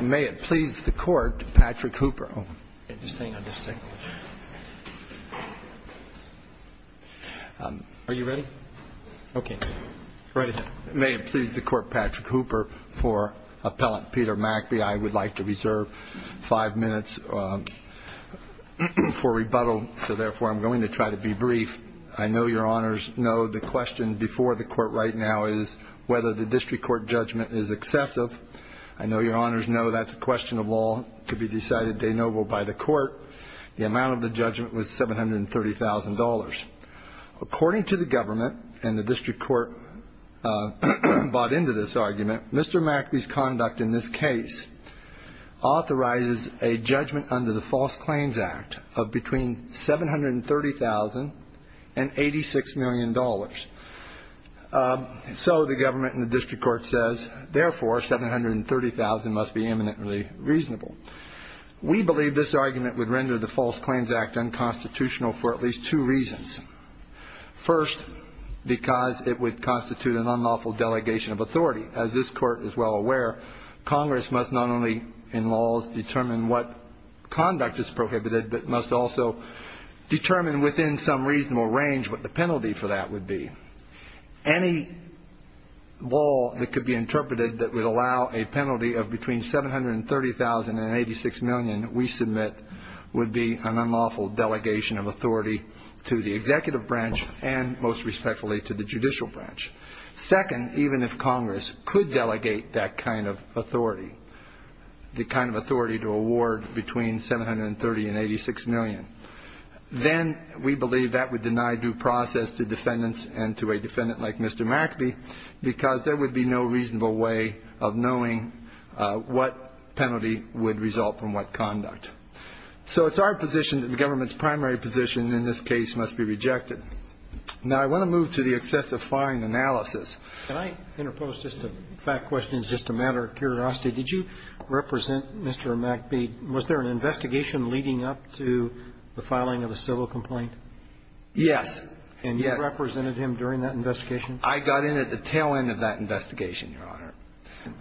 May it please the Court, Patrick Hooper for Appellant Peter Mackby. I would like to reserve five minutes for rebuttal, so therefore I'm going to try to be brief. I know Your Honors know the question before the Court right now is whether the District Court judgment is excessive. I know Your Honors know that's a question of law to be decided de novo by the Court. The amount of the judgment was $730,000. According to the Government and the District Court bought into this argument, Mr. Mackby's conduct in this case authorizes a judgment under the False Claims Act of between $730,000 and $86 million. So the Government and the District Court says therefore $730,000 must be eminently reasonable. We believe this argument would render the False Claims Act unconstitutional for at least two reasons. First, because it would constitute an unlawful delegation of authority. As this conduct is prohibited, it must also determine within some reasonable range what the penalty for that would be. Any law that could be interpreted that would allow a penalty of between $730,000 and $86 million we submit would be an unlawful delegation of authority to the Executive Branch and most respectfully to the Judicial Branch. Second, even if Congress could delegate that kind of authority, the kind of authority to award between $730,000 and $86 million, then we believe that would deny due process to defendants and to a defendant like Mr. Mackby because there would be no reasonable way of knowing what penalty would result from what conduct. So it's our position that the Government's primary position in this case must be rejected. Now I want to move to the excessive fine analysis. Can I interpose just a fact question as just a matter of curiosity? Did you represent Mr. Mackby? Was there an investigation leading up to the filing of the civil complaint? Yes. And you represented him during that investigation? I got in at the tail end of that investigation, Your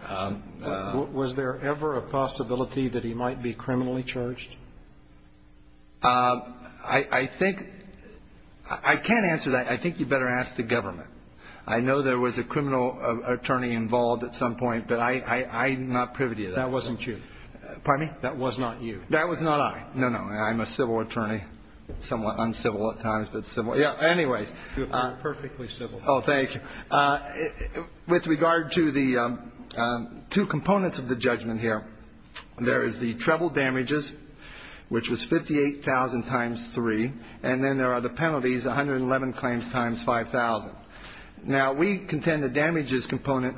Honor. Was there ever a possibility that he might be criminally charged? I think you better ask the Government. I know there was a criminal attorney involved at some point, but I'm not privy to that. That wasn't you. Pardon me? That was not you. That was not I. No, no. I'm a civil attorney, somewhat uncivil at times, but civil. Yeah. Anyways. You're perfectly civil. Oh, thank you. With regard to the two components of the judgment here, there is the treble damages, which was 58,000 times 3, and then there are the penalties, 111 claims times 5,000. Now, we contend the damages component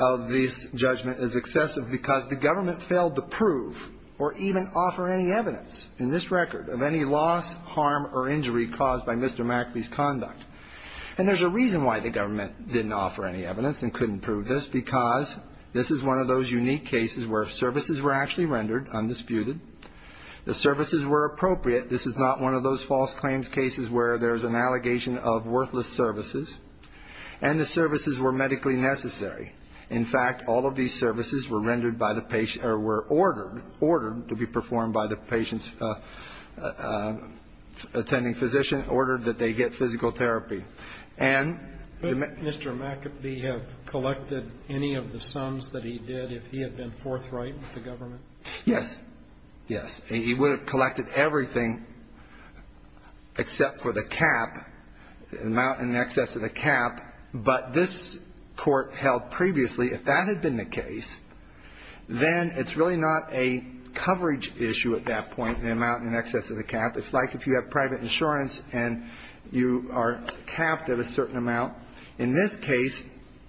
of this judgment is excessive because the Government failed to prove or even offer any evidence in this record of any loss, harm or injury caused by Mr. Mackby's conduct. And there's a reason why the Government didn't offer any evidence and couldn't prove this, because this is one of those unique cases where services were actually rendered undisputed, the services were appropriate. This is not one of those false claims cases where there's an allegation of worthless services, and the services were medically necessary. In fact, all of these services were rendered by the patient or were ordered to be performed by the patient's attending physician, ordered that they get physical therapy. And the Mr. Mackabee have collected any of the sums that he did if he had been forthright with the Government? Yes. Yes. He would have collected everything except for the cap, the amount in excess of the cap. But this Court held previously if that had been the case, then it's really not a coverage issue at that point, the amount in excess of the cap. It's like if you have private insurance and you are capped at a certain amount. In this case,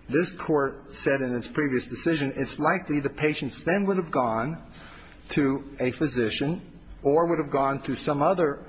this Court said in its previous decision, it's likely the patient's would have gone to a physician or would have gone to some other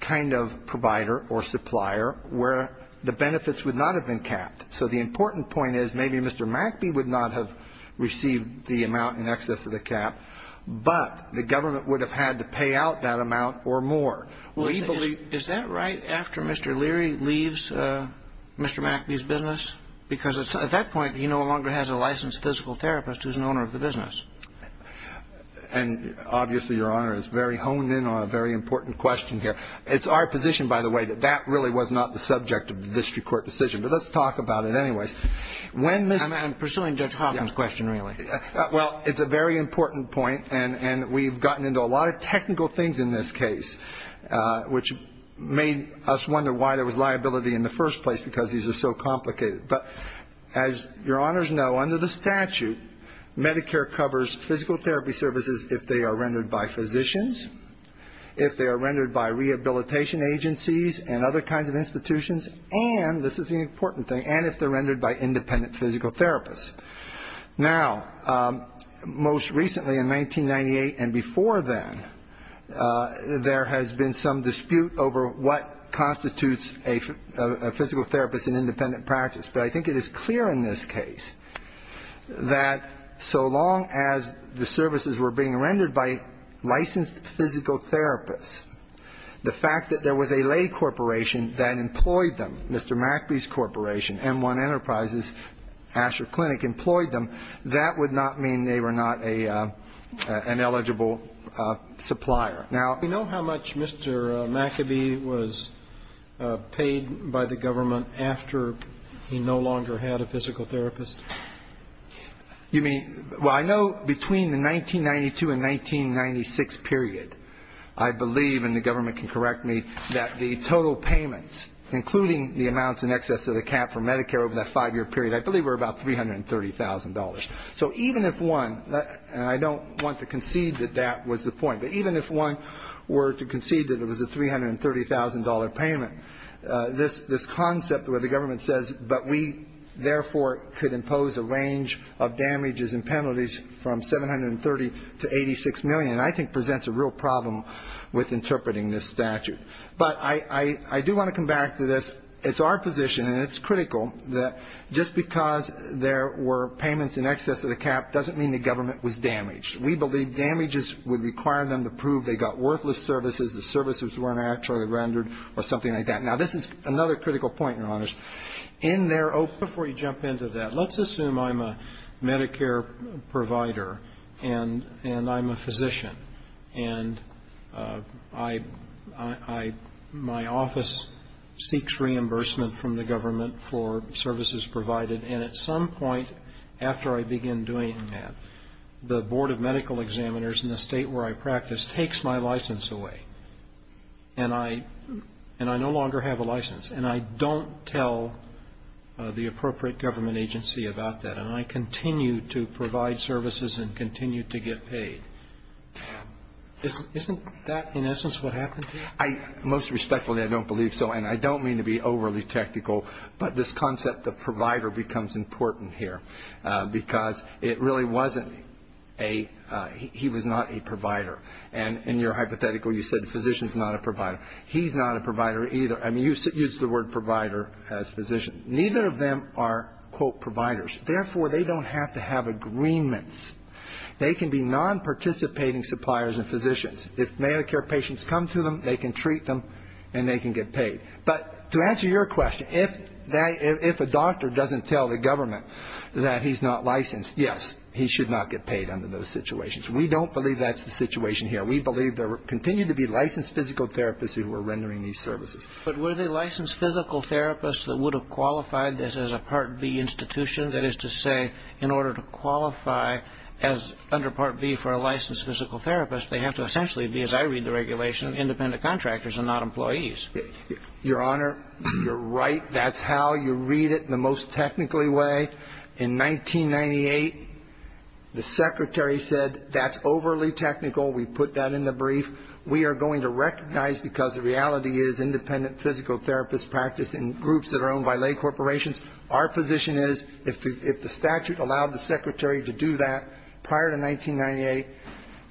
kind of provider or supplier where the benefits would not have been capped. So the important point is maybe Mr. Mackabee would not have received the amount in excess of the cap, but the Government would have had to pay out that amount or more. Well, is that right after Mr. Leary leaves Mr. Mackabee's business? Because at that point, he no longer has a licensed physical therapist who's an owner of the business. And obviously, Your Honor, it's very honed in on a very important question here. It's our position, by the way, that that really was not the subject of the district court decision. But let's talk about it anyways. When Mr. ---- I'm pursuing Judge Hopkins' question, really. Well, it's a very important point, and we've gotten into a lot of technical things in this case, which made us wonder why there was liability in the first place, because these are so complicated. But as Your Honors know, under the statute, Medicare covers physical therapy services if they are rendered by physicians, if they are rendered by rehabilitation agencies and other kinds of institutions, and this is an important thing, and if they're rendered by independent physical therapists. Now, most recently in 1998 and before then, there has been some dispute over what constitutes a physical therapist in independent practice. But I think it is clear in this case that so long as the services were being rendered by licensed physical therapists, the fact that there was a lay corporation that employed them, Mr. McAbee's Corporation, M1 Enterprises, Asher Clinic employed them, that would not mean they were not an eligible supplier. Now, you know how much Mr. McAbee was paid by the government after he no longer had a physical therapist? You mean? Well, I know between the 1992 and 1996 period, I believe, and the government can correct me, that the total payments, including the amounts in excess of the cap for Medicare over that five-year period, I believe were about $330,000. So even if one, and I don't want to concede that that was the point, but even if one were to concede that it was a $330,000 payment, this concept where the government says, but we therefore could impose a range of damages and penalties from $730,000 to $86,000,000, I think presents a real problem with interpreting this statute. But I do want to come back to this. It's our position, and it's critical, that just because there were payments in excess of the cap doesn't mean the government was damaged. We believe damages would require them to prove they got worthless services, the services weren't actually rendered, or something like that. Now, this is another critical point, Your Honors. In their open ---- Before you jump into that, let's assume I'm a Medicare provider and I'm a physician. And I my office seeks reimbursement from the government for services provided. And at some point after I begin doing that, the Board of Medical Examiners in the state where I practice takes my license away. And I no longer have a license. And I don't tell the appropriate government agency about that. And I continue to provide services and continue to get paid. Isn't that in essence what happened? Most respectfully, I don't believe so. And I don't mean to be overly technical, but this concept of provider becomes important here. Because it really wasn't a ---- he was not a provider. And in your hypothetical, you said the physician's not a provider. He's not a provider either. I mean, you used the word provider as physician. Neither of them are, quote, providers. Therefore, they don't have to have agreements. They can be non-participating suppliers and physicians. If Medicare patients come to them, they can treat them and they can get paid. But to answer your question, if a doctor doesn't tell the government that he's not licensed, yes, he should not get paid under those situations. We don't believe that's the situation here. We believe there continue to be licensed physical therapists who are rendering these services. But were they licensed physical therapists that would have qualified this as a Part B institution? That is to say, in order to qualify as under Part B for a licensed physical therapist, they have to essentially be, as I read the regulation, independent contractors and not employees. Your Honor, you're right. That's how you read it in the most technically way. In 1998, the Secretary said that's overly technical. We put that in the brief. We are going to recognize because the reality is independent physical therapists practice in groups that are owned by lay corporations. Our position is if the statute allowed the Secretary to do that prior to 1998,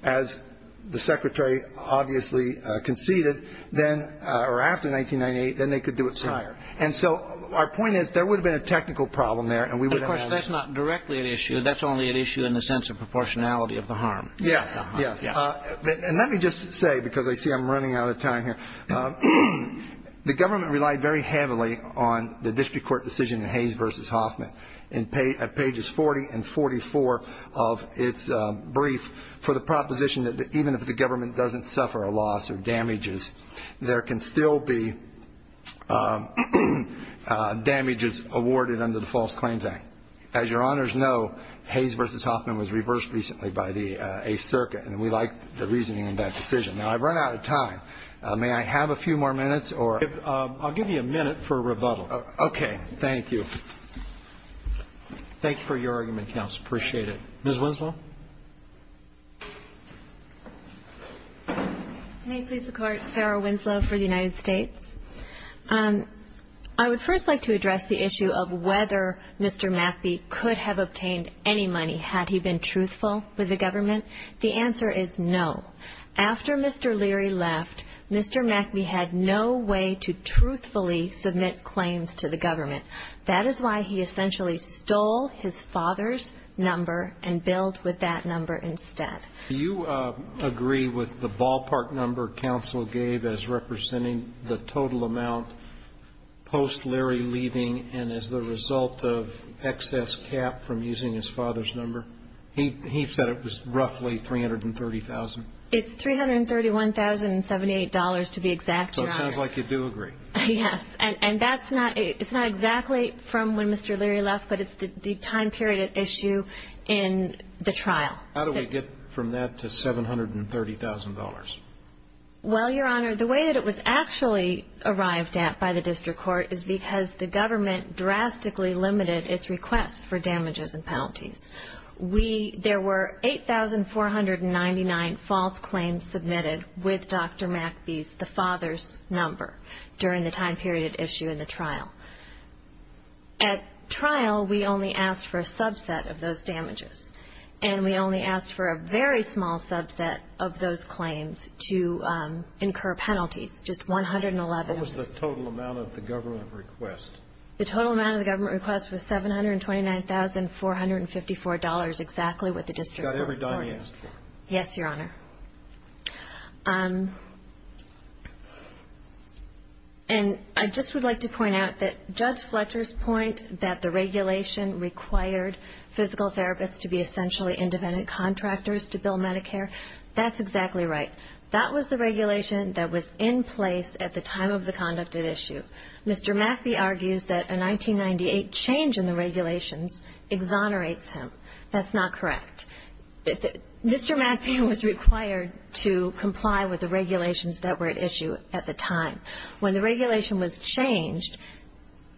as the Secretary obviously conceded, then or after 1998, then they could do it prior. And so our point is there would have been a technical problem there and we would have had a ---- Of course, that's not directly an issue. That's only an issue in the sense of proportionality of the harm. Yes. Yes. And let me just say, because I see I'm running out of time here, the government relied very heavily on the district court decision in Hayes v. Hoffman at pages 40 and 44 of its brief for the proposition that even if the government doesn't suffer a loss or damages, there can still be damages awarded under the False Claims Act. As Your Honors know, Hayes v. Hoffman was reversed recently by the 8th Circuit and we like the reasoning in that decision. Now, I've run out of time. May I have a few more minutes or ---- I'll give you a minute for rebuttal. Okay. Thank you. Thank you for your argument, counsel. I appreciate it. Ms. Winslow. May it please the Court. Sarah Winslow for the United States. I would first like to address the issue of whether Mr. Matthey could have obtained any money had he been truthful with the government. The answer is no. After Mr. Leary left, Mr. Matthey had no way to truthfully submit claims to the government. That is why he essentially stole his father's number and billed with that number instead. Do you agree with the ballpark number counsel gave as representing the total amount post Leary leaving and as the result of excess cap from using his father's number? He said it was roughly $330,000. It's $331,078 to be exact, Your Honor. So it sounds like you do agree. Yes. And that's not exactly from when Mr. Leary left, but it's the time period at issue in the trial. How do we get from that to $730,000? Well, Your Honor, the way that it was actually arrived at by the district court is because the government drastically limited its request for damages and penalties. There were 8,499 false claims submitted with Dr. Matthey's, the father's number, during the time period at issue in the trial. At trial, we only asked for a subset of those damages, and we only asked for a very small subset of those claims to incur penalties, just 111. What was the total amount of the government request? The total amount of the government request was $729,454, exactly what the district court requested. You got every dime you asked for. Yes, Your Honor. And I just would like to point out that Judge Fletcher's point that the regulation required physical therapists to be essentially independent contractors to bill Medicare, that's exactly right. That was the regulation that was in place at the time of the conduct at issue. Mr. Matthey argues that a 1998 change in the regulations exonerates him. That's not correct. Mr. Matthey was required to comply with the regulations that were at issue at the time. When the regulation was changed,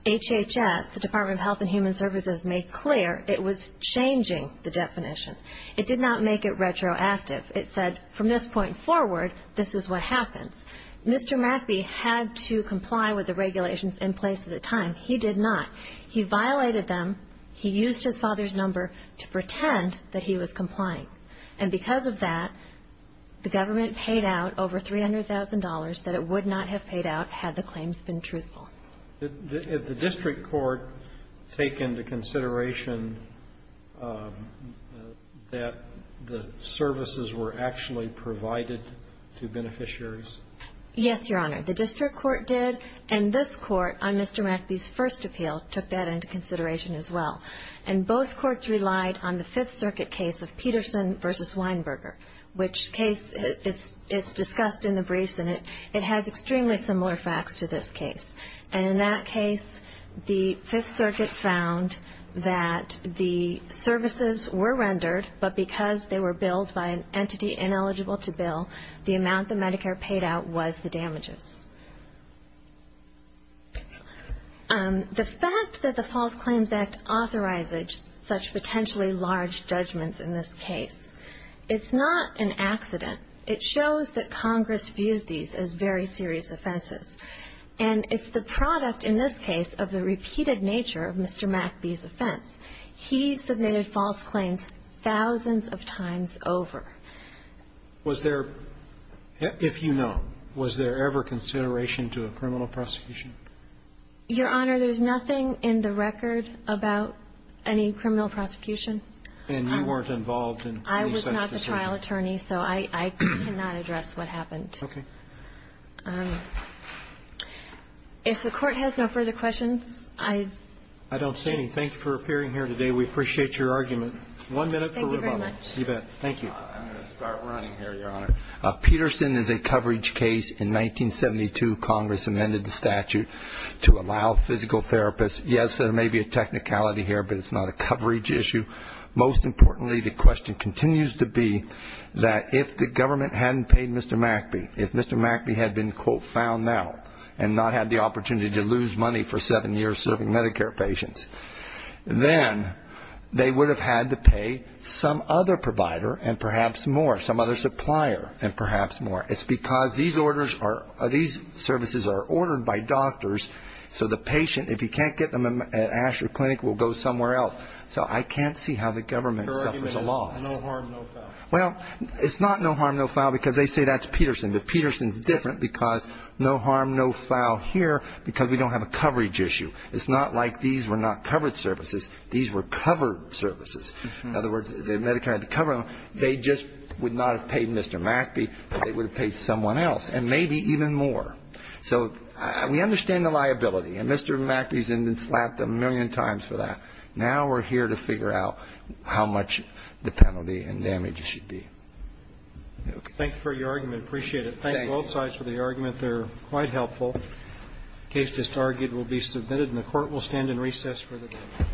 HHS, the Department of Health and Human Services, made clear it was changing the definition. It did not make it retroactive. It said, from this point forward, this is what happens. Mr. Matthey had to comply with the regulations in place at the time. He did not. He violated them. He used his father's number to pretend that he was complying. And because of that, the government paid out over $300,000 that it would not have paid out had the claims been truthful. Did the district court take into consideration that the services were actually provided to beneficiaries? Yes, Your Honor. The district court did. And this Court, on Mr. Matthey's first appeal, took that into consideration as well. And both courts relied on the Fifth Circuit case of Peterson v. Weinberger, which case is discussed in the briefs, and it has extremely similar facts to this case. And in that case, the Fifth Circuit found that the services were rendered, but because they were billed by an entity ineligible to bill, the amount that Medicare paid out was the damages. The fact that the False Claims Act authorizes such potentially large judgments in this case, it's not an accident. It shows that Congress views these as very serious offenses. And it's the product, in this case, of the repeated nature of Mr. McBee's offense. He submitted false claims thousands of times over. Was there, if you know, was there ever consideration to a criminal prosecution? Your Honor, there's nothing in the record about any criminal prosecution. And you weren't involved in any such decision? I was not the trial attorney, so I cannot address what happened. Okay. If the Court has no further questions, I just ---- I don't see any. Thank you for appearing here today. We appreciate your argument. One minute for rebuttal. Thank you very much. You bet. Thank you. I'm going to start running here, Your Honor. Peterson is a coverage case. In 1972, Congress amended the statute to allow physical therapists ---- yes, there may be a technicality here, but it's not a coverage issue. Most importantly, the question continues to be that if the government hadn't paid Mr. McBee, if Mr. McBee had been, quote, found now, and not had the opportunity to lose money for seven years serving Medicare patients, then they would have had to pay some other provider and perhaps more, some other supplier and perhaps more. It's because these orders are ---- these services are ordered by doctors, so the patient, if he can't get them at Asher Clinic, will go somewhere else. So I can't see how the government suffers a loss. Your argument is no harm, no foul. Well, it's not no harm, no foul because they say that's Peterson. But Peterson is different because no harm, no foul here because we don't have a coverage issue. It's not like these were not covered services. These were covered services. In other words, the Medicare had to cover them. They just would not have paid Mr. McBee. They would have paid someone else and maybe even more. So we understand the liability. And Mr. McBee has been slapped a million times for that. Now we're here to figure out how much the penalty and damages should be. Okay. Thank you for your argument. I appreciate it. Thank you both sides for the argument. They're quite helpful. The case just argued will be submitted and the Court will stand in recess for the debate.